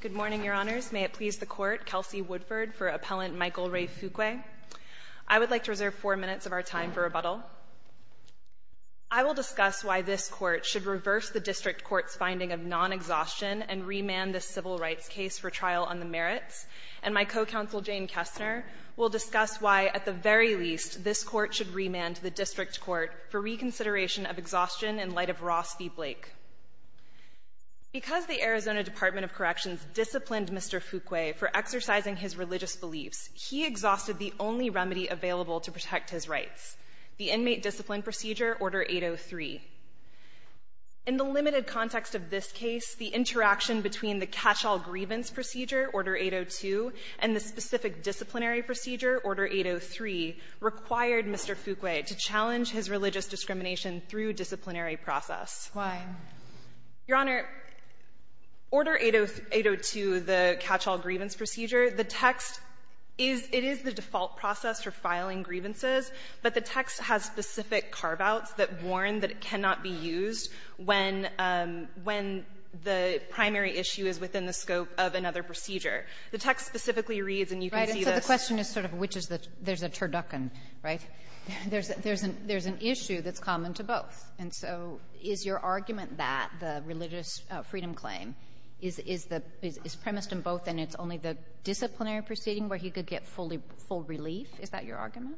Good morning, Your Honors. May it please the Court, Kelsey Woodford for Appellant Michael Ray Fuqua. I would like to reserve four minutes of our time for rebuttal. I will discuss why this Court should reverse the District Court's finding of non-exhaustion and remand this civil rights case for trial on the merits, and my co-counsel Jane Kestner will discuss why, at the very least, this Court should remand the District Court for reconsideration of exhaustion in light of Ross v. Blake. Because the Arizona Department of Corrections disciplined Mr. Fuqua for exercising his religious beliefs, he exhausted the only remedy available to protect his rights, the inmate discipline procedure, Order 803. In the limited context of this case, the interaction between the catch-all grievance procedure, Order 802, and the specific disciplinary procedure, Order 803, required Mr. Fuqua to challenge his religious belief in non-exhaustion discrimination through disciplinary process. Your Honor, Order 802, the catch-all grievance procedure, the text is, it is the default process for filing grievances, but the text has specific carve-outs that warn that it cannot be used when, when the primary issue is within the scope of another procedure. The text specifically reads, and you can see the question is sort of which is the, there's a turducken, right? There's an issue that's common to both. And so is your argument that the religious freedom claim is premised in both and it's only the disciplinary proceeding where he could get fully, full relief? Is that your argument?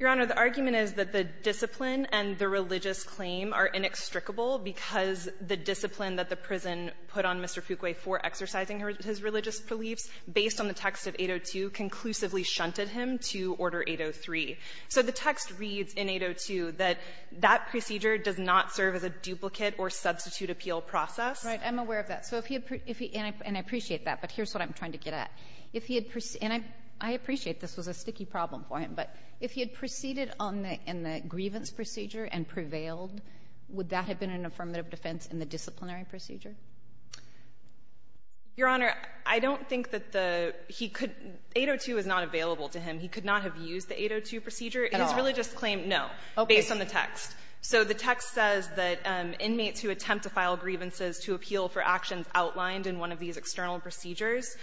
Your Honor, the argument is that the discipline and the religious claim are inextricable because the discipline that the prison put on Mr. Fuqua for exercising his religious beliefs based on the text of 802 conclusively shunted him to Order 803. So the text reads in 802 that that procedure does not serve as a duplicate or substitute appeal process. Right. I'm aware of that. So if he had, and I appreciate that, but here's what I'm trying to get at. If he had, and I appreciate this was a sticky problem for him, but if he had proceeded on the, in the grievance procedure and prevailed, would that have been an affirmative defense in the disciplinary procedure? Your Honor, I don't think that the he could 802 is not available to him. He could not have used the 802 procedure. At all. His religious claim, no. Okay. Based on the text. So the text says that inmates who attempt to file grievances to appeal for actions outlined in one of these external procedures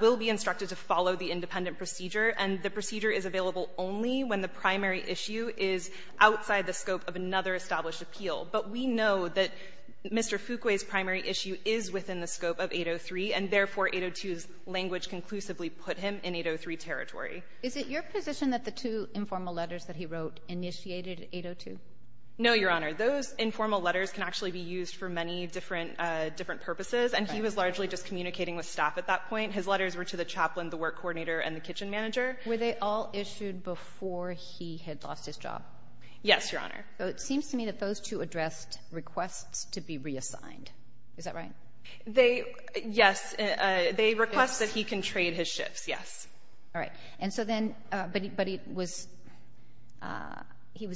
will be instructed to follow the independent procedure, and the procedure is available only when the primary issue is outside the scope of another established appeal. But we know that Mr. Fuqua's primary issue is within the scope of 803, and therefore, 802's language conclusively put him in 803 territory. Is it your position that the two informal letters that he wrote initiated 802? No, Your Honor. Those informal letters can actually be used for many different, different purposes. And he was largely just communicating with staff at that point. His letters were to the chaplain, the work coordinator, and the kitchen manager. Were they all issued before he had lost his job? Yes, Your Honor. So it seems to me that those two addressed requests to be reassigned. Is that right? They yes, they request that he can trade his shifts, yes. All right. And so then, but he was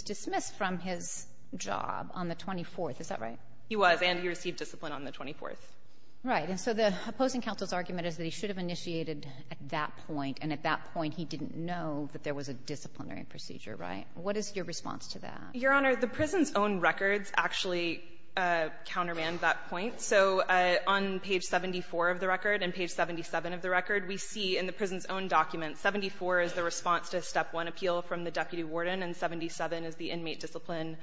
dismissed from his job on the 24th. Is that right? He was, and he received discipline on the 24th. Right. And so the opposing counsel's argument is that he should have initiated at that point, and at that point, he didn't know that there was a disciplinary procedure, right? What is your response to that? Your Honor, the prison's own records actually countermand that point. So on page 74 of the record and page 77 of the record, we see in the prison's own documents, 74 is the response to Step 1 appeal from the deputy warden, and 77 is the inmate discipline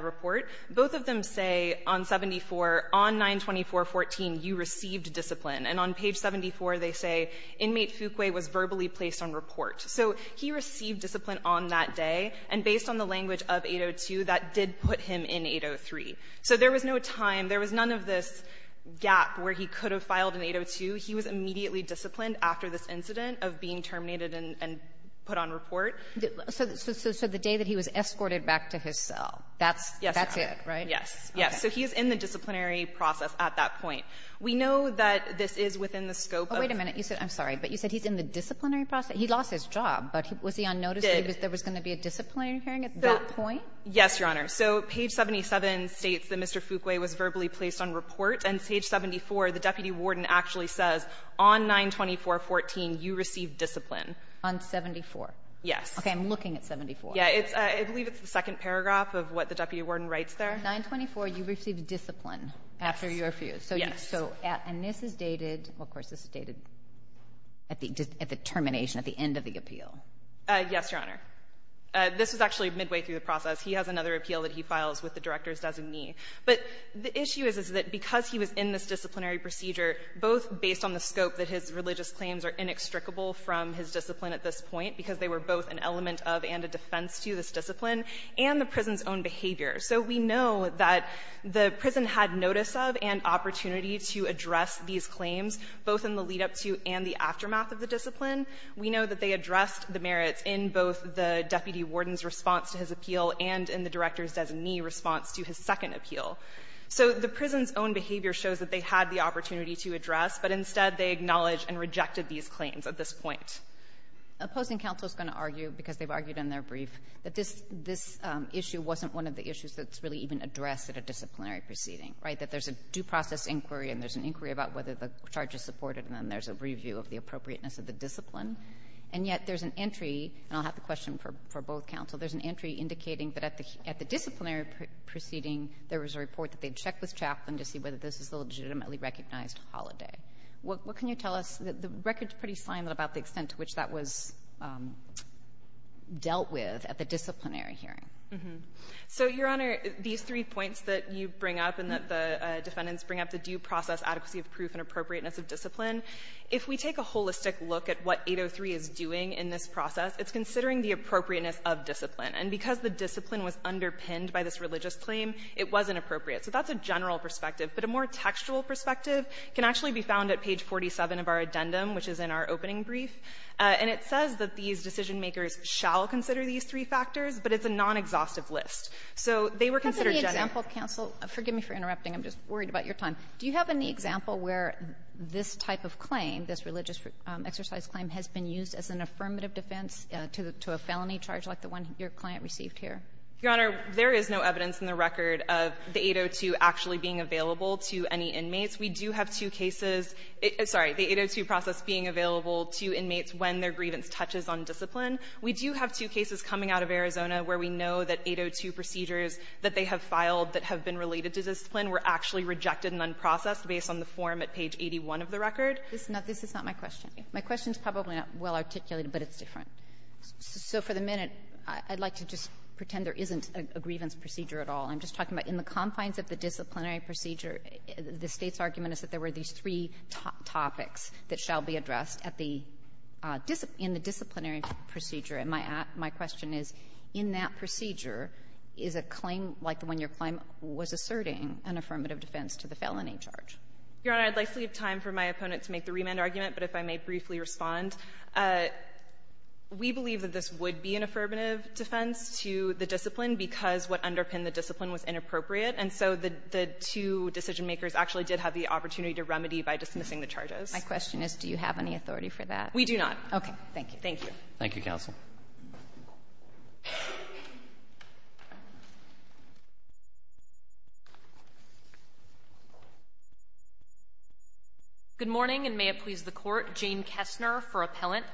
report. Both of them say on 74, on 924.14, you received discipline. And on page 74, they say, Inmate Fuqua was verbally placed on report. So he received discipline on that day. And based on the language of 802, that did put him in 803. So there was no time. There was none of this gap where he could have filed in 802. He was immediately disciplined after this incident of being terminated and put on report. So the day that he was escorted back to his cell, that's it, right? Yes. Yes. So he is in the disciplinary process at that point. We know that this is within the scope of the prison's own records. Oh, wait a minute. You said, I'm sorry, but you said he's in the disciplinary process. He lost his job, but was he on notice that there was going to be a disciplinary hearing at that point? Yes, Your Honor. So page 77 states that Mr. Fuqua was verbally placed on report. And page 74, the deputy warden actually says, On 924.14, you received discipline. On 74? Yes. Okay. I'm looking at 74. Yeah. I believe it's the second paragraph of what the deputy warden writes there. 924, you received discipline after you refused. Yes. So at and this is dated, of course, this is dated at the termination, at the end of the appeal. Yes, Your Honor. This was actually midway through the process. He has another appeal that he files with the director's designee. But the issue is, is that because he was in this disciplinary procedure, both based on the scope that his religious claims are inextricable from his discipline at this point, because they were both an element of and a defense to this discipline, and the prison's own behavior. So we know that the prison had notice of and opportunity to address these claims, both in the lead-up to and the aftermath of the discipline. We know that they addressed the merits in both the deputy warden's response to his appeal and in the director's designee response to his second appeal. So the prison's own behavior shows that they had the opportunity to address, but instead they acknowledged and rejected these claims at this point. Opposing counsel is going to argue, because they've argued in their brief, that this issue wasn't one of the issues that's really even addressed at a disciplinary proceeding, right, that there's a due process inquiry and there's an inquiry about whether the charge is supported, and then there's a review of the appropriateness of the discipline. And yet there's an entry, and I'll have the question for both counsel, there's an entry indicating that at the disciplinary proceeding, there was a report that they'd check with Chaplain to see whether this is a legitimately recognized holiday. What can you tell us? The record's pretty slim about the extent to which that was dealt with at the disciplinary hearing. So, Your Honor, these three points that you bring up and that the defendants bring up, the due process, adequacy of proof, and appropriateness of discipline, if we take a holistic look at what 803 is doing in this process, it's considering the appropriateness of discipline. And because the discipline was underpinned by this religious claim, it wasn't appropriate. So that's a general perspective. But a more textual perspective can actually be found at page 47 of our addendum, which is in our opening brief. And it says that these decision-makers shall consider these three factors, but it's a non-exhaustive list. So they were considered general. Kagan. Kagan. Kagan. Kagan. Kagan. Kagan. Kagan. Kagan. Kagan. Kagan. Kagan. Your Honor, there is no evidence in the record of the 802 actually being available to any inmates. We do have two cases — sorry, the 802 process being available to inmates when their grievance touches on discipline. We do have two cases coming out of Arizona where we know that 802 procedures that they have filed that have been related to discipline were actually rejected and unprocessed based on the form at page 81 of the record. This is not my question. My question is probably not well-articulated, but it's different. So for the minute, I'd like to just pretend there isn't a grievance procedure at all. I'm just talking about in the confines of the disciplinary procedure, the State's argument is that there were these three topics that shall be addressed at the — in the disciplinary procedure. And my question is, in that procedure, is a claim like the one-year claim was asserting an affirmative defense to the felony charge? Your Honor, I'd like to leave time for my opponent to make the remand argument, but if I may briefly respond, we believe that this would be an affirmative defense to the discipline because what underpinned the discipline was inappropriate, and so the two decisionmakers actually did have the opportunity to remedy by dismissing the charges. My question is, do you have any authority for that? We do not. Okay. Thank you. Thank you. Thank you, counsel. Good morning, and may it please the Court. Jane Kessner for appellant.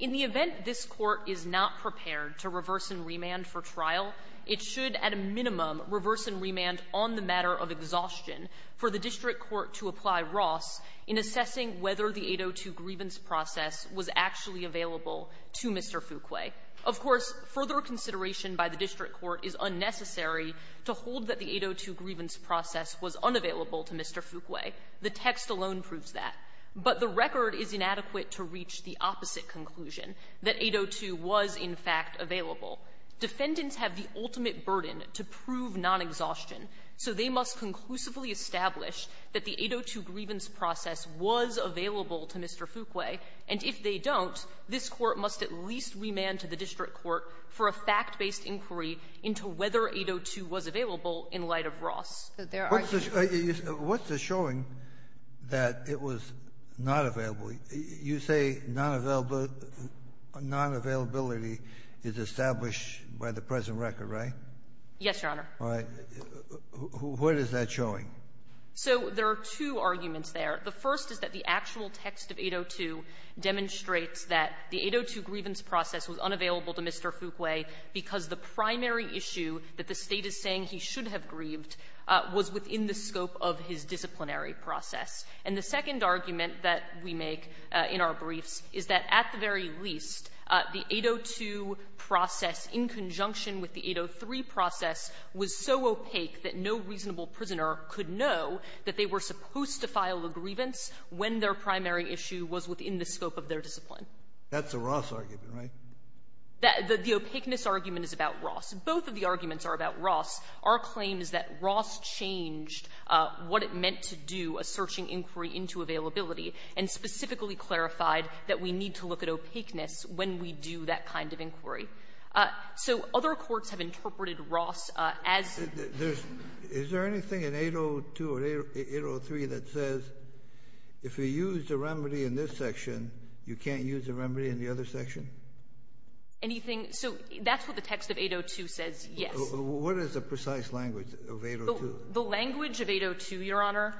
In the event this Court is not prepared to reverse and remand for trial, it should, at a minimum, reverse and remand on the matter of exhaustion for the district court to apply Ross in assessing whether the 802 grievance process was actually available to Mr. Fuquay. Of course, further consideration by the district court is unnecessary to hold that the 802 grievance process was unavailable to Mr. Fuquay. The text alone proves that. But the record is inadequate to reach the opposite conclusion, that 802 was, in fact, available. Defendants have the ultimate burden to prove non-exhaustion, so they must conclusively establish that the 802 grievance process was available to Mr. Fuquay, and if they don't, this Court must at least remand to the district court for a fact-based inquiry into whether 802 was available in light of Ross. What's the showing that it was not available? You say non-availability is established by the present record, right? Yes, Your Honor. All right. What is that showing? So there are two arguments there. The first is that the actual text of 802 demonstrates that the 802 grievance process was unavailable to Mr. Fuquay because the primary issue that the State is saying he should have grieved was within the scope of his disciplinary process. And the second argument that we make in our briefs is that, at the very least, the 802 process in conjunction with the 803 process was so opaque that no reasonable prisoner could know that they were supposed to file a grievance when their primary issue was within the scope of their discipline. That's a Ross argument, right? The opaqueness argument is about Ross. Both of the arguments are about Ross. Our claim is that Ross changed what it meant to do a searching inquiry into availability and specifically clarified that we need to look at opaqueness when we do that kind of inquiry. So other courts have interpreted Ross as the ---- Kennedy, is there anything in 802 or 803 that says if you use the remedy in this section, you can't use the remedy in the other section? Anything so that's what the text of 802 says, yes. What is the precise language of 802? The language of 802, Your Honor,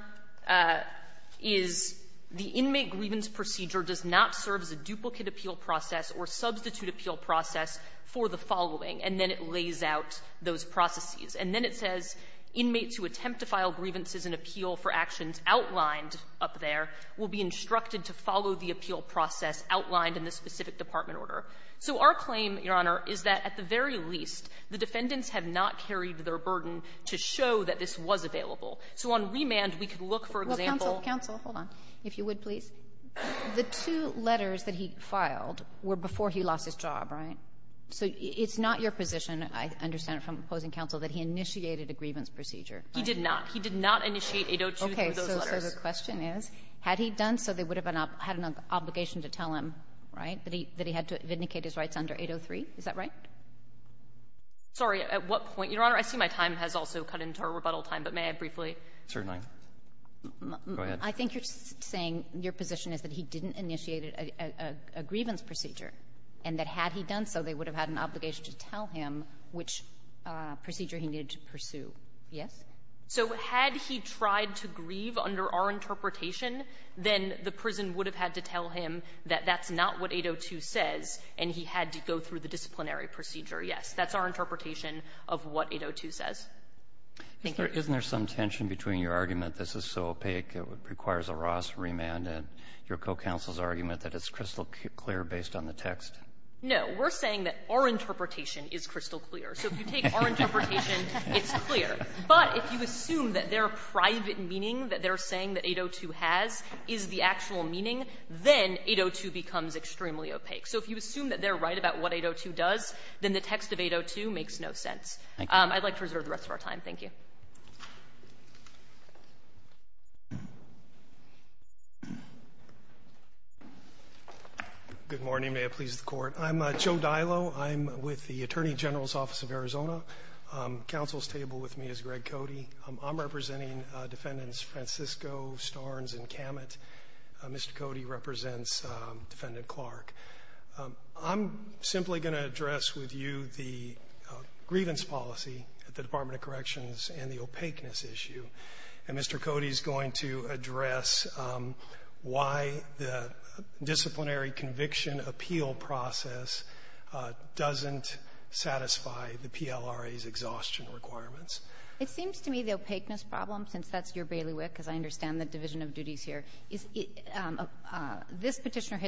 is the inmate grievance procedure does not serve as a duplicate appeal process or substitute appeal process for the following. And then it lays out those processes. And then it says inmates who attempt to file grievances and appeal for actions outlined up there will be instructed to follow the appeal process outlined in the specific department order. So our claim, Your Honor, is that at the very least, the defendants have not carried their burden to show that this was available. So on remand, we could look for example ---- Kagan. Kagan. Kagan. Kagan. Kagan. Kagan. Kagan. Kagan. Kagan. Kagan. Kagan. Kagan. Kagan. Kagan. He initiated a grievance procedure. He did not. He did not initiate 802 through those letters. Okay. So the question is, had he done so, they would have had an obligation to tell him, right, that he had to vindicate his rights under 803? Is that right? Sorry. At what point? Your Honor, I see my time has also cut into our rebuttal time, but may I briefly ---- Certainly. Go ahead. I think you're saying your position is that he didn't initiate a grievance procedure, and that had he done so, they would have had an obligation to tell him which procedure he needed to pursue. Yes? So had he tried to grieve under our interpretation, then the prison would have had to tell him that that's not what 802 says, and he had to go through the disciplinary procedure. Yes. That's our interpretation of what 802 says. Thank you. Isn't there some tension between your argument, this is so opaque, it requires a Ross remand, and your co-counsel's argument that it's crystal clear based on the text? No. We're saying that our interpretation is crystal clear. So if you take our interpretation, it's clear. But if you assume that their private meaning that they're saying that 802 has is the actual meaning, then 802 becomes extremely opaque. So if you assume that they're right about what 802 does, then the text of 802 makes no sense. Thank you. I'd like to reserve the rest of our time. Thank you. Good morning. May it please the Court. I'm Joe Dylo. I'm with the Attorney General's Office of Arizona. Counsel's table with me is Greg Cody. I'm representing Defendants Francisco, Starnes, and Kamat. Mr. Cody represents Defendant Clark. It seems to me the opaqueness problem, since that's your bailiwick, because I understand the division of duties here, is this Petitioner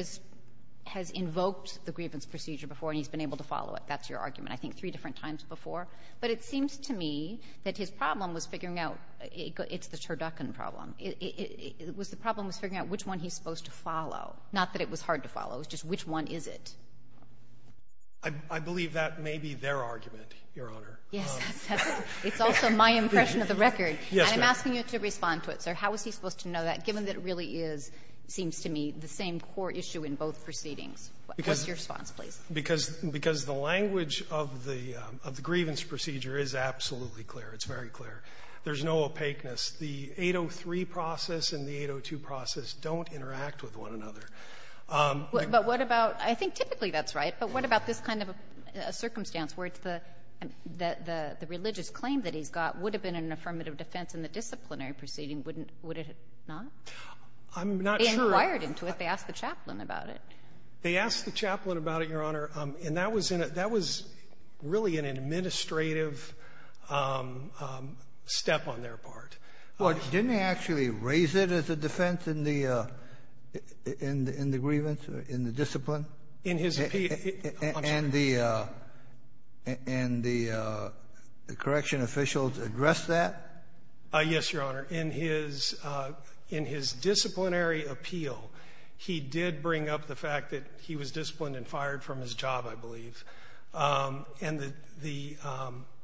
has invoked the grievance procedure before, and he's been able to follow it. That's your argument, I think, three different times before. But it seems to me that his problem was figuring out the Turducken problem. It was the problem was figuring out which one he's supposed to follow. Not that it was hard to follow. It was just which one is it. I believe that may be their argument, Your Honor. Yes. It's also my impression of the record. Yes, ma'am. And I'm asking you to respond to it, sir. How is he supposed to know that, given that it really is, it seems to me, the same core issue in both proceedings? What's your response, please? Because the language of the grievance procedure is absolutely clear. It's very clear. There's no opaqueness. The 803 process and the 802 process don't interact with one another. But what about — I think typically that's right. But what about this kind of a circumstance where it's the religious claim that he's got would have been an affirmative defense in the disciplinary proceeding, wouldn't it not? I'm not sure. They inquired into it. They asked the chaplain about it. They asked the chaplain about it, Your Honor, and that was in a — that was really an administrative step on their part. Well, didn't they actually raise it as a defense in the — in the grievance or in the discipline? In his — And the — and the correction officials addressed that? Yes, Your Honor. In his — in his disciplinary appeal, he did bring up the fact that he was disciplined and fired from his job, I believe. And the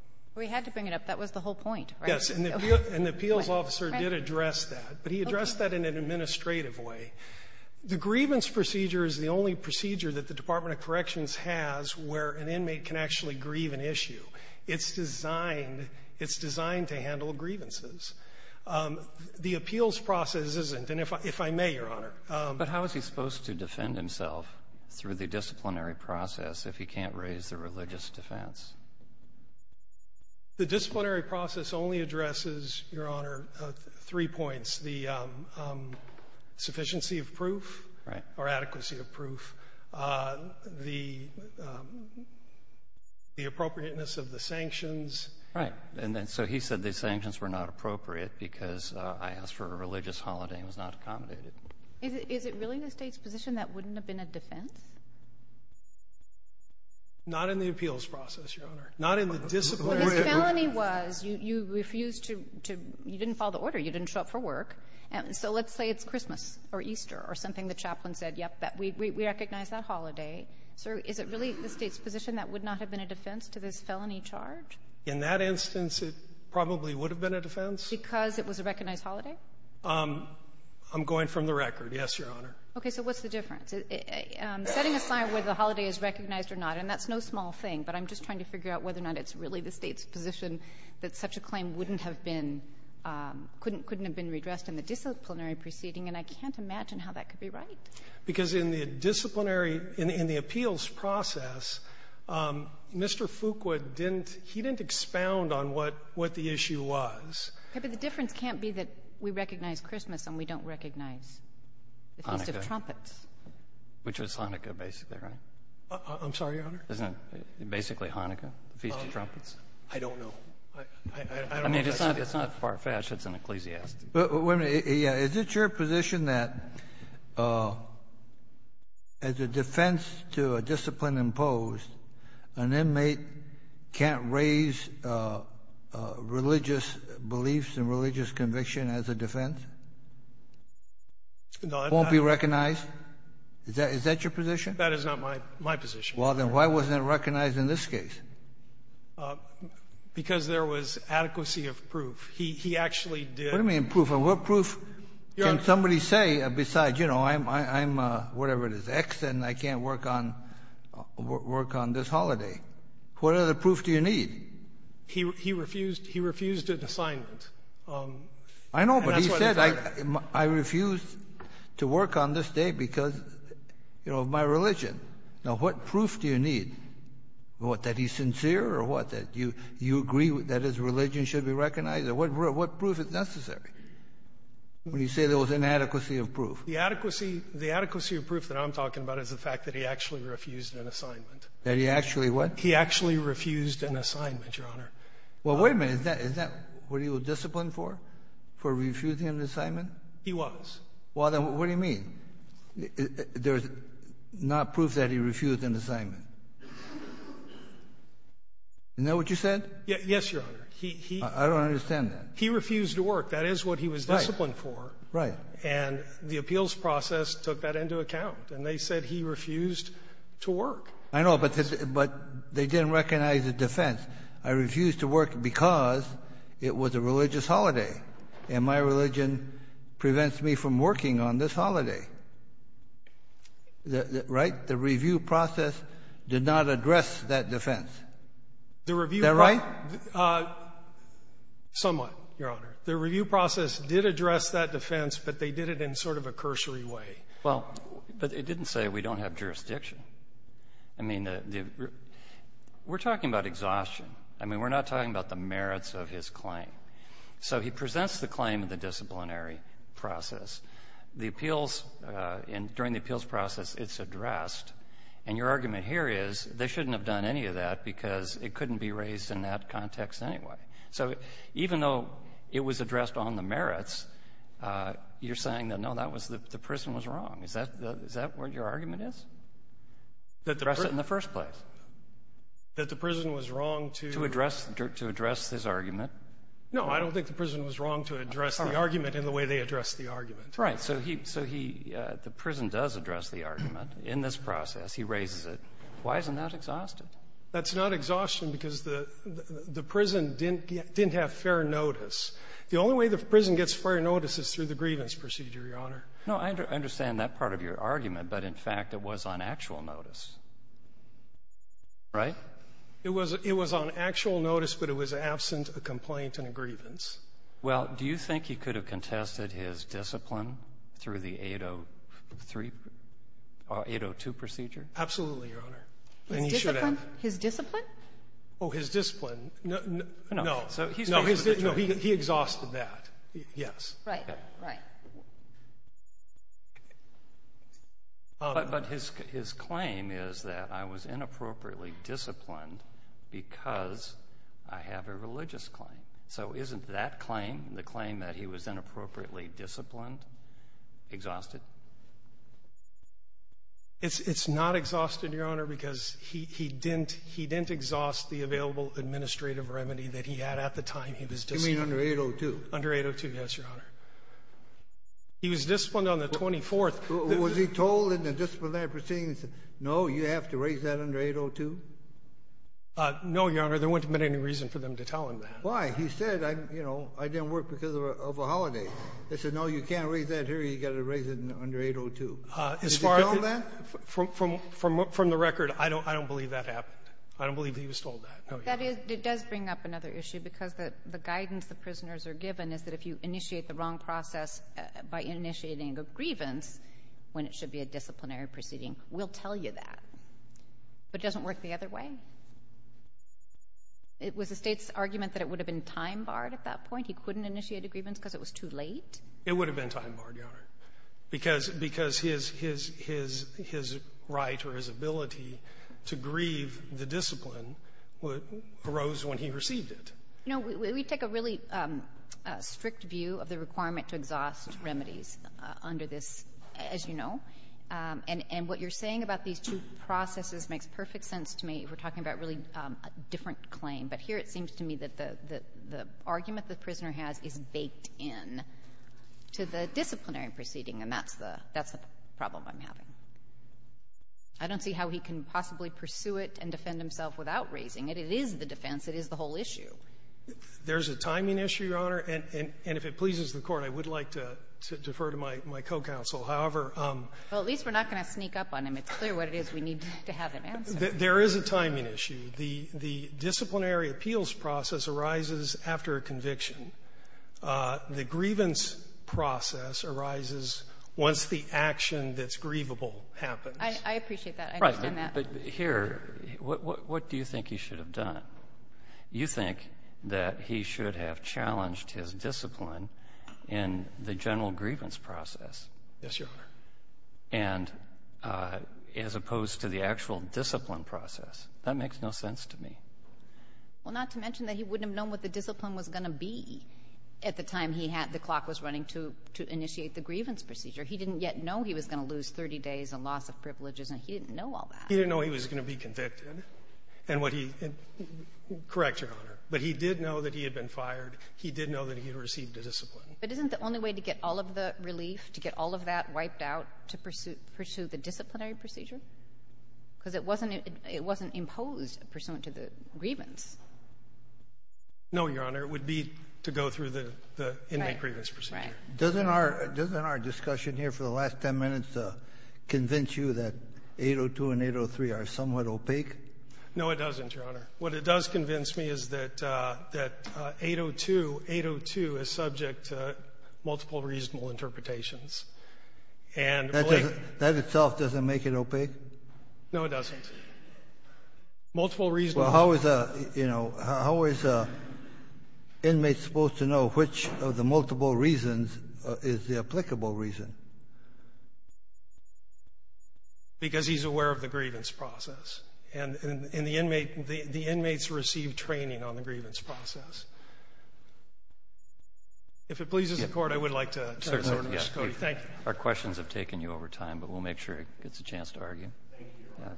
— We had to bring it up. That was the whole point, right? Yes. And the appeals officer did address that. But he addressed that in an administrative way. The grievance procedure is the only procedure that the Department of Corrections has where an inmate can actually grieve an issue. It's designed — it's designed to handle grievances. The appeals process isn't. And if I — if I may, Your Honor — But how is he supposed to defend himself through the disciplinary process if he can't raise the religious defense? The disciplinary process only addresses, Your Honor, three points, the sufficiency of proof — Right. — or adequacy of proof, the — the appropriateness of the sanctions. Right. And then — so he said the sanctions were not appropriate because I asked for a religious holiday and it was not accommodated. Is it — is it really the State's position that it wouldn't have been a defense? Not in the appeals process, Your Honor. Not in the disciplinary — But his felony was you — you refused to — to — you didn't follow the order. You didn't show up for work. And so let's say it's Christmas or Easter or something. The chaplain said, yep, that — we — we recognize that holiday. So is it really the State's position that it would not have been a defense to this felony charge? In that instance, it probably would have been a defense. Because it was a recognized holiday? I'm going from the record, yes, Your Honor. Okay. So what's the difference? Setting aside whether the holiday is recognized or not, and that's no small thing, but I'm just trying to figure out whether or not it's really the State's position that such a claim wouldn't have been — couldn't — couldn't have been redressed in the disciplinary proceeding, and I can't imagine how that could be right. Because in the disciplinary — in the appeals process, Mr. Fuqua didn't — he didn't expound on what — what the issue was. Okay. But the difference can't be that we recognize Christmas and we don't recognize the Feast of Trumpets. Hanukkah. Which was Hanukkah, basically, right? I'm sorry, Your Honor? Isn't it basically Hanukkah, the Feast of Trumpets? I don't know. I — I don't know if I said that. I mean, it's not far-fetched. It's an ecclesiastic. Wait a minute. Is it your position that, as a defense to a discipline imposed, an inmate can't raise religious beliefs and religious conviction as a defense? No, that's not — Won't be recognized? Is that — is that your position? That is not my — my position, Your Honor. Well, then why wasn't it recognized in this case? Because there was adequacy of proof. He — he actually did — What do you mean, proof? What proof can somebody say besides, you know, I'm — I'm whatever it is, X, and I can't work on — work on this holiday? What other proof do you need? He — he refused — he refused an assignment. I know, but he said I — I refused to work on this day because, you know, of my religion. Now, what proof do you need? What, that he's sincere or what? That you — you agree that his religion should be recognized? What — what proof is necessary when you say there was inadequacy of proof? The adequacy — the adequacy of proof that I'm talking about is the fact that he actually refused an assignment. That he actually what? He actually refused an assignment, Your Honor. Well, wait a minute. Is that — is that what he was disciplined for, for refusing an assignment? He was. Well, then what do you mean? There's not proof that he refused an assignment. Isn't that what you said? Yes, Your Honor. He — he — I don't understand that. He refused to work. That is what he was disciplined for. Right. And the appeals process took that into account. And they said he refused to work. I know, but this — but they didn't recognize the defense. I refused to work because it was a religious holiday, and my religion prevents me from working on this holiday. Right? The review process did not address that defense. Is that right? The review process — somewhat, Your Honor. The review process did address that defense, but they did it in sort of a cursory way. Well, but it didn't say we don't have jurisdiction. I mean, the — we're talking about exhaustion. I mean, we're not talking about the merits of his claim. So he presents the claim in the disciplinary process. The appeals — during the appeals process, it's addressed. And your argument here is they shouldn't have done any of that because it couldn't be raised in that context anyway. So even though it was addressed on the merits, you're saying that, no, that was — the prison was wrong. Is that — is that what your argument is? Address it in the first place. That the prison was wrong to — To address — to address his argument. No. I don't think the prison was wrong to address the argument in the way they addressed the argument. Right. So he — so he — the prison does address the argument in this process. He raises it. Why isn't that exhaustion? That's not exhaustion because the — the prison didn't — didn't have fair notice. The only way the prison gets fair notice is through the grievance procedure, Your Honor. No, I understand that part of your argument. But, in fact, it was on actual notice, right? It was — it was on actual notice, but it was absent a complaint and a grievance. Well, do you think he could have contested his discipline through the 803 — 802 procedure? Absolutely, Your Honor. And he should have. His discipline? Oh, his discipline. No. No. So he's — No, his — no, he exhausted that, yes. Right. Right. But his — his claim is that I was inappropriately disciplined because I have a religious claim. So isn't that claim, the claim that he was inappropriately disciplined, exhausted? It's — it's not exhausted, Your Honor, because he — he didn't — he didn't exhaust the available administrative remedy that he had at the time he was — You mean under 802? Under 802, yes, Your Honor. He was disciplined on the 24th. Was he told in the disciplinary proceedings, no, you have to raise that under 802? No, Your Honor. There wouldn't have been any reason for them to tell him that. Why? He said, you know, I didn't work because of a holiday. They said, no, you can't raise that here. You've got to raise it under 802. Did he tell them that? From — from the record, I don't — I don't believe that happened. I don't believe that he was told that, no, Your Honor. That is — it does bring up another issue, because the guidance the prisoners are given is that if you initiate the wrong process by initiating a grievance when it should be a disciplinary proceeding, we'll tell you that. But it doesn't work the other way. It was the State's argument that it would have been time-barred at that point? He couldn't initiate a grievance because it was too late? It would have been time-barred, Your Honor, because — because his — his — his right or his ability to grieve the discipline arose when he received it. You know, we take a really strict view of the requirement to exhaust remedies under this, as you know. And — and what you're saying about these two processes makes perfect sense to me. We're talking about really a different claim. But here it seems to me that the — the argument the prisoner has is baked in to the disciplinary proceeding, and that's the — that's the problem I'm having. I don't see how he can possibly pursue it and defend himself without raising it. It is the defense. It is the whole issue. There's a timing issue, Your Honor. And — and if it pleases the Court, I would like to defer to my — my co-counsel. However, I'm — Well, at least we're not going to sneak up on him. It's clear what it is we need to have him answer. There is a timing issue. The — the disciplinary appeals process arises after a conviction. The grievance process arises once the action that's grievable happens. I appreciate that. I understand that. Right. But here, what — what do you think he should have done? You think that he should have challenged his discipline in the general grievance process. Yes, Your Honor. And as opposed to the actual discipline process. That makes no sense to me. Well, not to mention that he wouldn't have known what the discipline was going to be at the time he had — the clock was running to — to initiate the grievance procedure. He didn't yet know he was going to lose 30 days and loss of privileges, and he didn't know all that. He didn't know he was going to be convicted and what he — correct, Your Honor. But he did know that he had been fired. He did know that he had received a discipline. But isn't the only way to get all of the relief, to get all of that wiped out, to pursue — pursue the disciplinary procedure? Because it wasn't — it wasn't imposed pursuant to the grievance. No, Your Honor. It would be to go through the — the inmate grievance procedure. Right. Right. Doesn't our — doesn't our discussion here for the last 10 minutes convince you that 802 and 803 are somewhat opaque? No, it doesn't, Your Honor. What it does convince me is that — that 802 — 802 is subject to multiple reasonable interpretations. And — That doesn't — that itself doesn't make it opaque? No, it doesn't. Multiple reasonable — Well, how is a — you know, how is an inmate supposed to know which of the multiple reasons is the applicable reason? Because he's aware of the grievance process. And — and the inmate — the inmates receive training on the grievance process. If it pleases the Court, I would like to turn this over to Mr. Cody. Thank you. Our questions have taken you over time, but we'll make sure it gets a chance to argue. Thank you, Your Honor.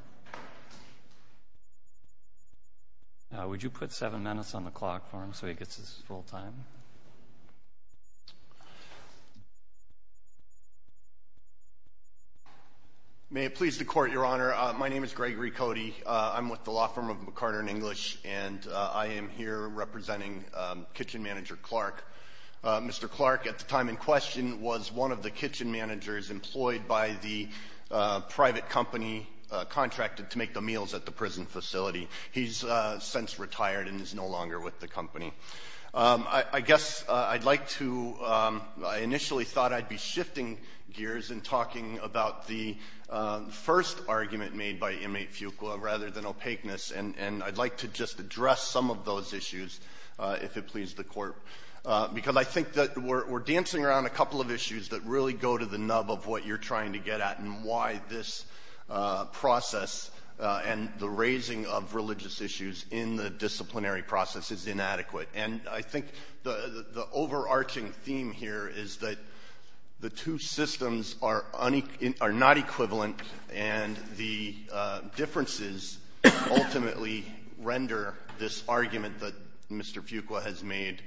Yeah. Would you put seven minutes on the clock for him so he gets his full time? May it please the Court, Your Honor. My name is Gregory Cody. I'm with the law firm of McCarter & English, and I am here representing kitchen manager Clark. Mr. Clark, at the time in question, was one of the kitchen managers employed by the private company contracted to make the meals at the prison facility. I guess I'd like to — I initially thought I'd be shifting gears and talking about the first argument made by inmate Fuqua, rather than opaqueness. And I'd like to just address some of those issues, if it pleases the Court, because I think that we're dancing around a couple of issues that really go to the nub of what you're trying to get at and why this process and the raising of religious issues in the And I think the overarching theme here is that the two systems are unequiv — are not equivalent, and the differences ultimately render this argument that Mr. Fuqua has made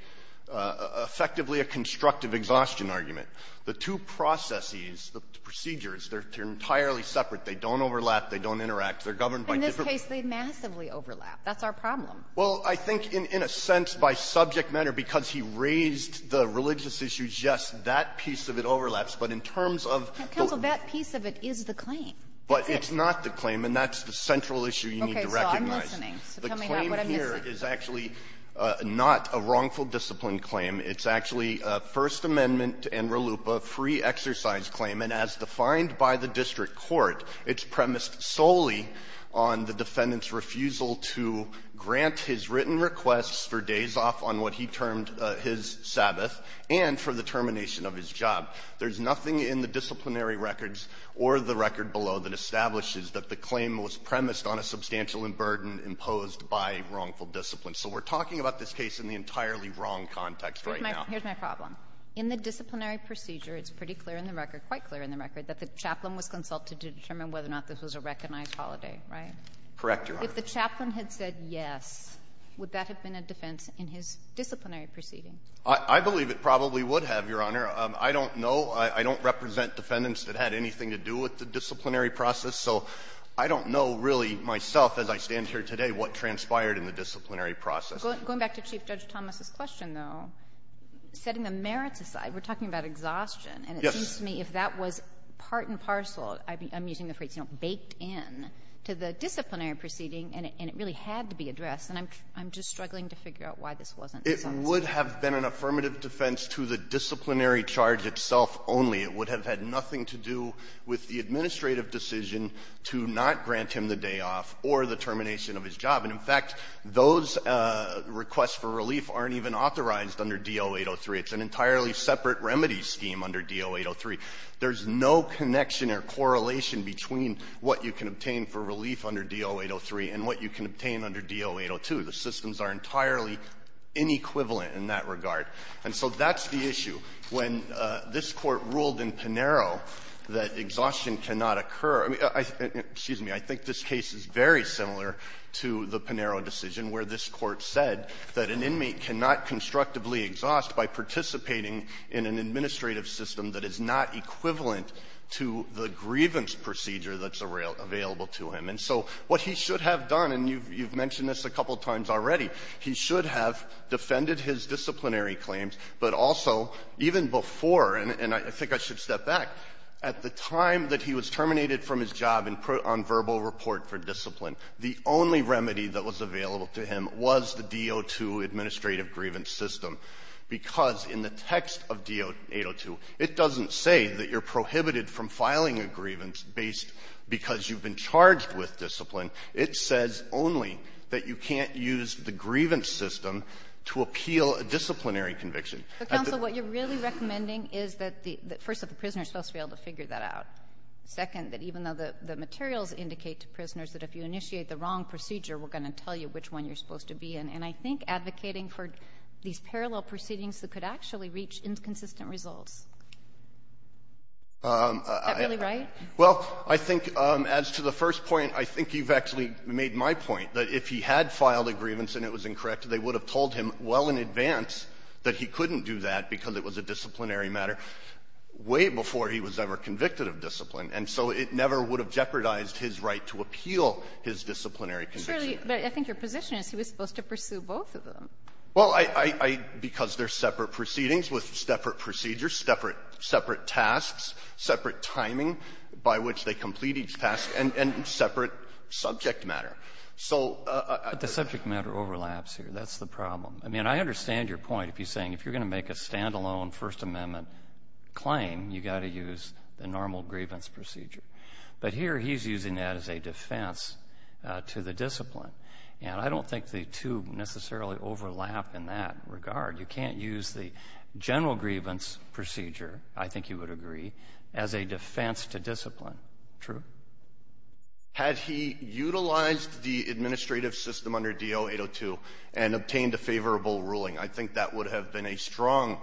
effectively a constructive exhaustion argument. The two processes, the procedures, they're entirely separate. They don't overlap. They don't interact. They're governed by different — In this case, they massively overlap. That's our problem. Well, I think in a sense, by subject matter, because he raised the religious issues, yes, that piece of it overlaps. But in terms of the — Counsel, that piece of it is the claim. But it's not the claim. And that's the central issue you need to recognize. So I'm listening. So tell me not what I'm missing. The claim here is actually not a wrongful discipline claim. It's actually a First Amendment and RLUIPA free exercise claim. And as defined by the district court, it's premised solely on the defendant's refusal to grant his written requests for days off on what he termed his Sabbath and for the termination of his job. There's nothing in the disciplinary records or the record below that establishes that the claim was premised on a substantial burden imposed by wrongful discipline. So we're talking about this case in the entirely wrong context right now. Here's my problem. In the disciplinary procedure, it's pretty clear in the record, quite clear in the record, that the chaplain was consulted to determine whether or not this was a recognized holiday, right? Correct, Your Honor. If the chaplain had said yes, would that have been a defense in his disciplinary proceeding? I believe it probably would have, Your Honor. I don't know. I don't represent defendants that had anything to do with the disciplinary process. So I don't know really myself, as I stand here today, what transpired in the disciplinary process. Going back to Chief Judge Thomas's question, though, setting the merits aside, we're talking about exhaustion. Yes. And it seems to me if that was part and parcel, I'm using the phrase, you know, baked in to the disciplinary proceeding, and it really had to be addressed. And I'm just struggling to figure out why this wasn't consulted. It would have been an affirmative defense to the disciplinary charge itself only. It would have had nothing to do with the administrative decision to not grant him the day off or the termination of his job. And, in fact, those requests for relief aren't even authorized under DO-803. It's an entirely separate remedy scheme under DO-803. There's no connection or correlation between what you can obtain for relief under DO-803 and what you can obtain under DO-802. The systems are entirely inequivalent in that regard. And so that's the issue. When this Court ruled in Panero that exhaustion cannot occur, excuse me, I think this case is very similar to the Panero decision, where this Court said that an inmate cannot constructively exhaust by participating in an administrative system that is not equivalent to the grievance procedure that's available to him. And so what he should have done, and you've mentioned this a couple times already, he should have defended his disciplinary claims, but also, even before, and I think I should step back, at the time that he was terminated from his job and put on verbal report for discipline, the only remedy that was available to him was the DO-2 administrative grievance system, because in the text of DO-802, it doesn't say that you're prohibited from filing a grievance based because you've been charged with discipline. It says only that you can't use the grievance system to appeal a disciplinary And the other thing is that you can't use disciplinary conviction to appeal a disciplinary conviction. Kagan. But, counsel, what you're really recommending is that the — first, that the prisoner is supposed to be able to figure that out. Second, that even though the materials indicate to prisoners that if you initiate the wrong procedure, we're going to tell you which one you're supposed to be in. And I think advocating for these parallel proceedings could actually reach inconsistent results. Is that really right? Well, I think, as to the first point, I think you've actually made my point, that if he had filed a grievance and it was incorrect, they would have told him well in advance that he couldn't do that because it was a disciplinary matter way before he was ever convicted of discipline. And so it never would have jeopardized his right to appeal his disciplinary conviction. But I think your position is he was supposed to pursue both of them. Well, I — because they're separate proceedings with separate procedures, separate tasks, separate timing by which they complete each task, and separate subject matter. So I think that's the problem. But the subject matter overlaps here. That's the problem. I mean, I understand your point if you're saying if you're going to make a standalone First Amendment claim, you've got to use the normal grievance procedure. But here he's using that as a defense to the discipline. And I don't think the two necessarily overlap in that regard. You can't use the general grievance procedure, I think you would agree, as a defense to discipline. True? Had he utilized the administrative system under DO-802 and obtained a favorable ruling, I think that would have been a strong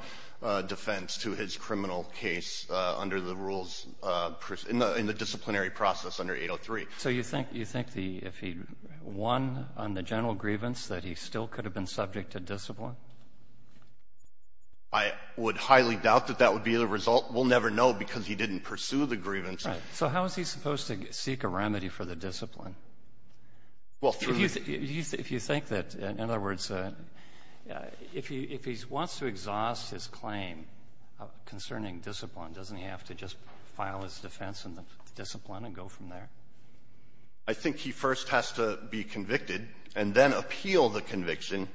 defense to his criminal case under the rules in the disciplinary process under 803. So you think the — if he won on the general grievance, that he still could have been subject to discipline? I would highly doubt that that would be the result. We'll never know because he didn't pursue the grievance. Right. So how is he supposed to seek a remedy for the discipline? Well, through the — If you think that — in other words, if he wants to exhaust his claim concerning discipline, doesn't he have to just file his defense in the discipline and go from there? I think he first has to be convicted and then appeal the conviction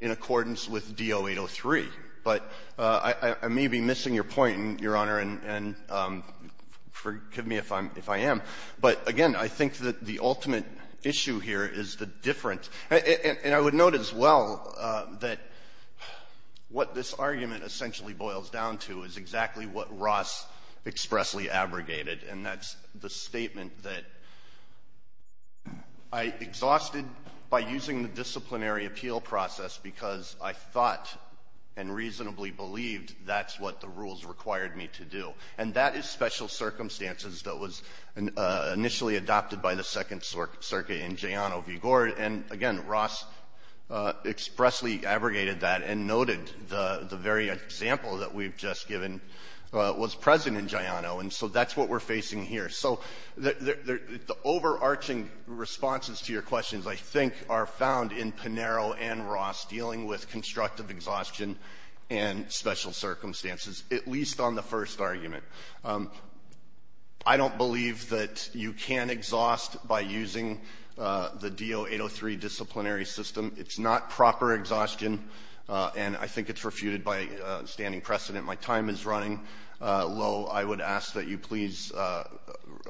in accordance with DO-803. But I may be missing your point, Your Honor, and forgive me if I'm — if I am. But, again, I think that the ultimate issue here is the different — and I would note as well that what this argument essentially boils down to is exactly what Ross expressly abrogated, and that's the statement that I exhausted by using the disciplinary appeal process because I thought and reasonably believed that's what the rules required me to do. And that is special circumstances that was initially adopted by the Second Circuit in Giano v. Gord. And, again, Ross expressly abrogated that and noted the very example that we've just given was present in Giano, and so that's what we're facing here. So the overarching responses to your questions, I think, are found in Pinero and Ross dealing with constructive exhaustion and special circumstances, at least on the first argument. I don't believe that you can exhaust by using the DO-803 disciplinary system. It's not proper exhaustion, and I think it's refuted by standing precedent. My time is running low. I would ask that you please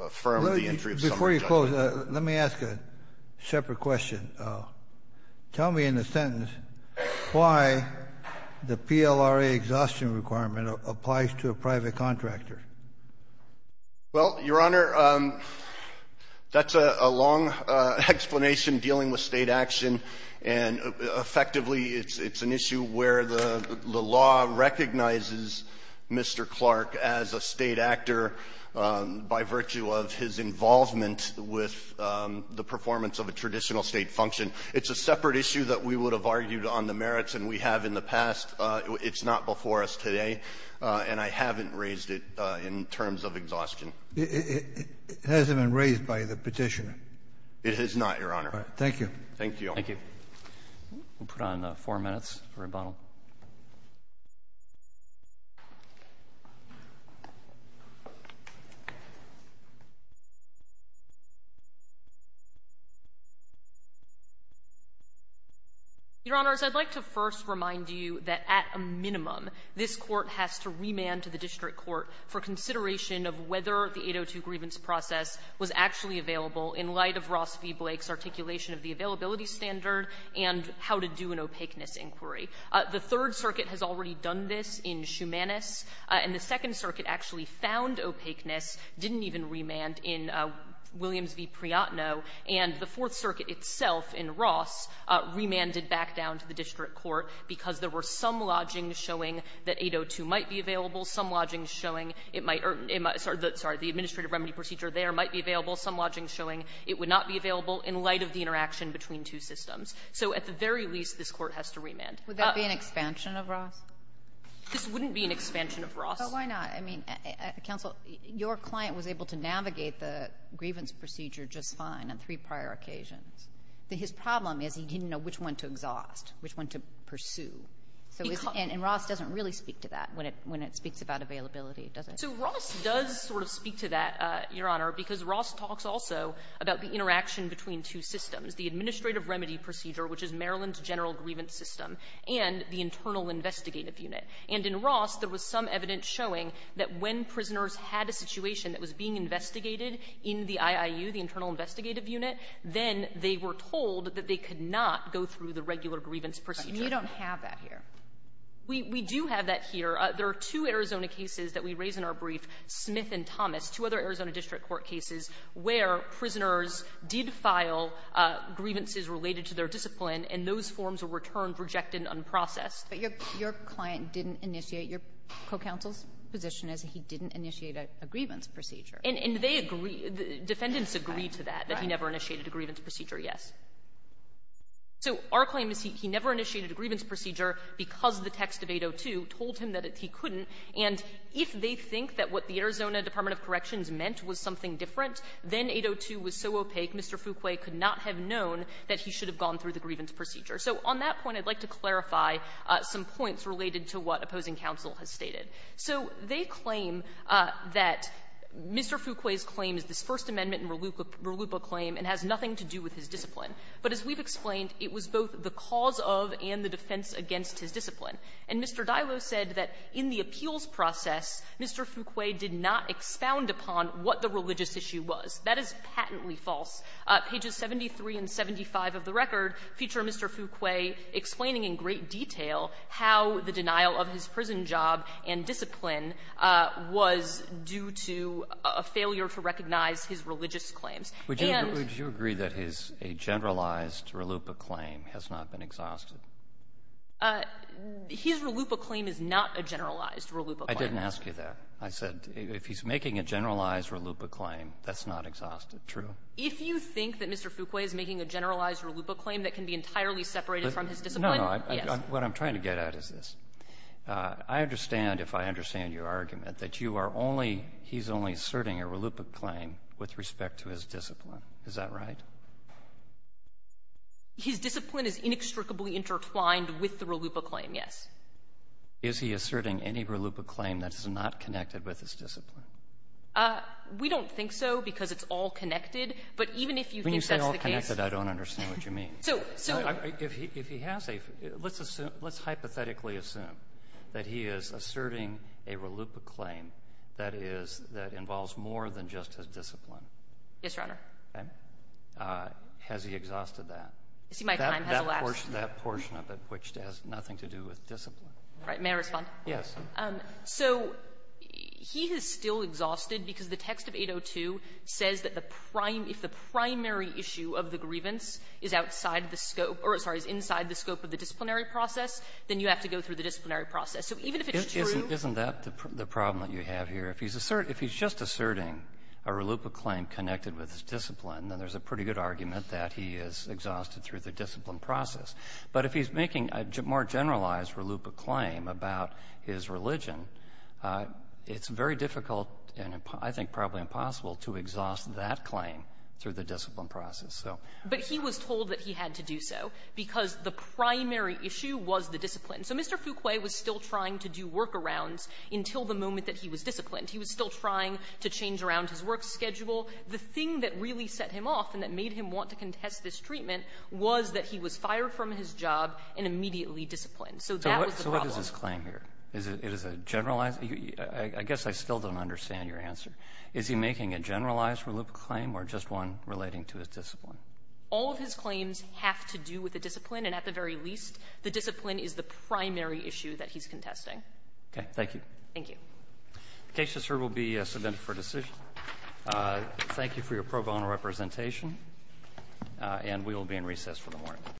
affirm the entry of summary judgment. Kennedy. Let me ask a separate question. Tell me in a sentence why the PLRA exhaustion requirement applies to a private contractor. Well, Your Honor, that's a long explanation dealing with State action, and effectively it's an issue where the law recognizes Mr. Clark as a State actor by virtue of his It's a separate issue that we would have argued on the merits, and we have in the past. It's not before us today, and I haven't raised it in terms of exhaustion. It hasn't been raised by the Petitioner. It has not, Your Honor. Thank you. Thank you. Thank you. We'll put on four minutes for rebuttal. Your Honors, I'd like to first remind you that at a minimum, this Court has to remand to the district court for consideration of whether the 802 grievance process was actually available in light of Ross v. Blake's articulation of the availability and how to do an opaqueness inquiry. The Third Circuit has already done this in Shumanis, and the Second Circuit actually found opaqueness, didn't even remand in Williams v. Priyotno, and the Fourth Circuit itself in Ross remanded back down to the district court because there were some lodgings showing that 802 might be available, some lodgings showing it might or the administrative remedy procedure there might be available, some lodgings showing it would not be available in light of the interaction between two systems. So at the very least, this Court has to remand. Would that be an expansion of Ross? This wouldn't be an expansion of Ross. But why not? I mean, counsel, your client was able to navigate the grievance procedure just fine on three prior occasions. His problem is he didn't know which one to exhaust, which one to pursue. And Ross doesn't really speak to that when it speaks about availability, does it? So Ross does sort of speak to that, Your Honor, because Ross talks also about the interaction between two systems, the administrative remedy procedure, which is Maryland's general grievance system, and the internal investigative unit. And in Ross, there was some evidence showing that when prisoners had a situation that was being investigated in the IIU, the internal investigative unit, then they were told that they could not go through the regular grievance procedure. And you don't have that here. We do have that here. There are two Arizona cases that we raise in our brief, Smith and Thomas, two other Arizona district court cases, where prisoners did file grievances related to their discipline, and those forms were returned, rejected, unprocessed. But your client didn't initiate your co-counsel's position as he didn't initiate a grievance procedure. And they agree. Defendants agree to that, that he never initiated a grievance procedure, yes. So our claim is he never initiated a grievance procedure because the text of 802 told him that he couldn't. And if they think that what the Arizona Department of Corrections meant was something different, then 802 was so opaque, Mr. Fouquet could not have known that he should have gone through the grievance procedure. So on that point, I'd like to clarify some points related to what opposing counsel has stated. So they claim that Mr. Fouquet's claim is this First Amendment and RLUIPA claim and has nothing to do with his discipline. But as we've explained, it was both the cause of and the defense against his discipline. And Mr. Dylo said that in the appeals process, Mr. Fouquet did not expound upon what the religious issue was. That is patently false. Pages 73 and 75 of the record feature Mr. Fouquet explaining in great detail how the denial of his prison job and discipline was due to a failure to recognize his religious claims. And the reason for that is that his generalized RLUIPA claim has not been exhausted. His RLUIPA claim is not a generalized RLUIPA claim. I didn't ask you that. I said if he's making a generalized RLUIPA claim, that's not exhausted. True? If you think that Mr. Fouquet is making a generalized RLUIPA claim that can be entirely separated from his discipline, yes. No, no. What I'm trying to get at is this. I understand, if I understand your argument, that you are only he's only asserting a RLUIPA claim with respect to his discipline. Is that right? His discipline is inextricably intertwined with the RLUIPA claim, yes. Is he asserting any RLUIPA claim that is not connected with his discipline? We don't think so, because it's all connected. But even if you think that's the case When you say all connected, I don't understand what you mean. So, so If he has a, let's assume, let's hypothetically assume that he is asserting a RLUIPA claim that is, that involves more than just his discipline. Yes, Your Honor. Okay. Has he exhausted that? That portion of it, which has nothing to do with discipline. Right. May I respond? Yes. So he is still exhausted because the text of 802 says that the prime, if the primary issue of the grievance is outside the scope, or sorry, is inside the scope of the disciplinary process, then you have to go through the disciplinary process. So even if it's true Isn't that the problem that you have here? If he's asserting, if he's just asserting a RLUIPA claim connected with his discipline, then there's a pretty good argument that he is exhausted through the discipline process. But if he's making a more generalized RLUIPA claim about his religion, it's very difficult, and I think probably impossible, to exhaust that claim through the discipline process, so. But he was told that he had to do so because the primary issue was the discipline. So Mr. Fuquay was still trying to do workarounds until the moment that he was disciplined. He was still trying to change around his work schedule. The thing that really set him off and that made him want to contest this treatment was that he was fired from his job and immediately disciplined. So that was the problem. So what is his claim here? Is it a generalized? I guess I still don't understand your answer. Is he making a generalized RLUIPA claim or just one relating to his discipline? All of his claims have to do with the discipline, and at the very least, the discipline is the primary issue that he's contesting. Okay. Thank you. Thank you. The case to serve will be submitted for decision. Thank you for your pro bono representation, and we will be in recess for the morning.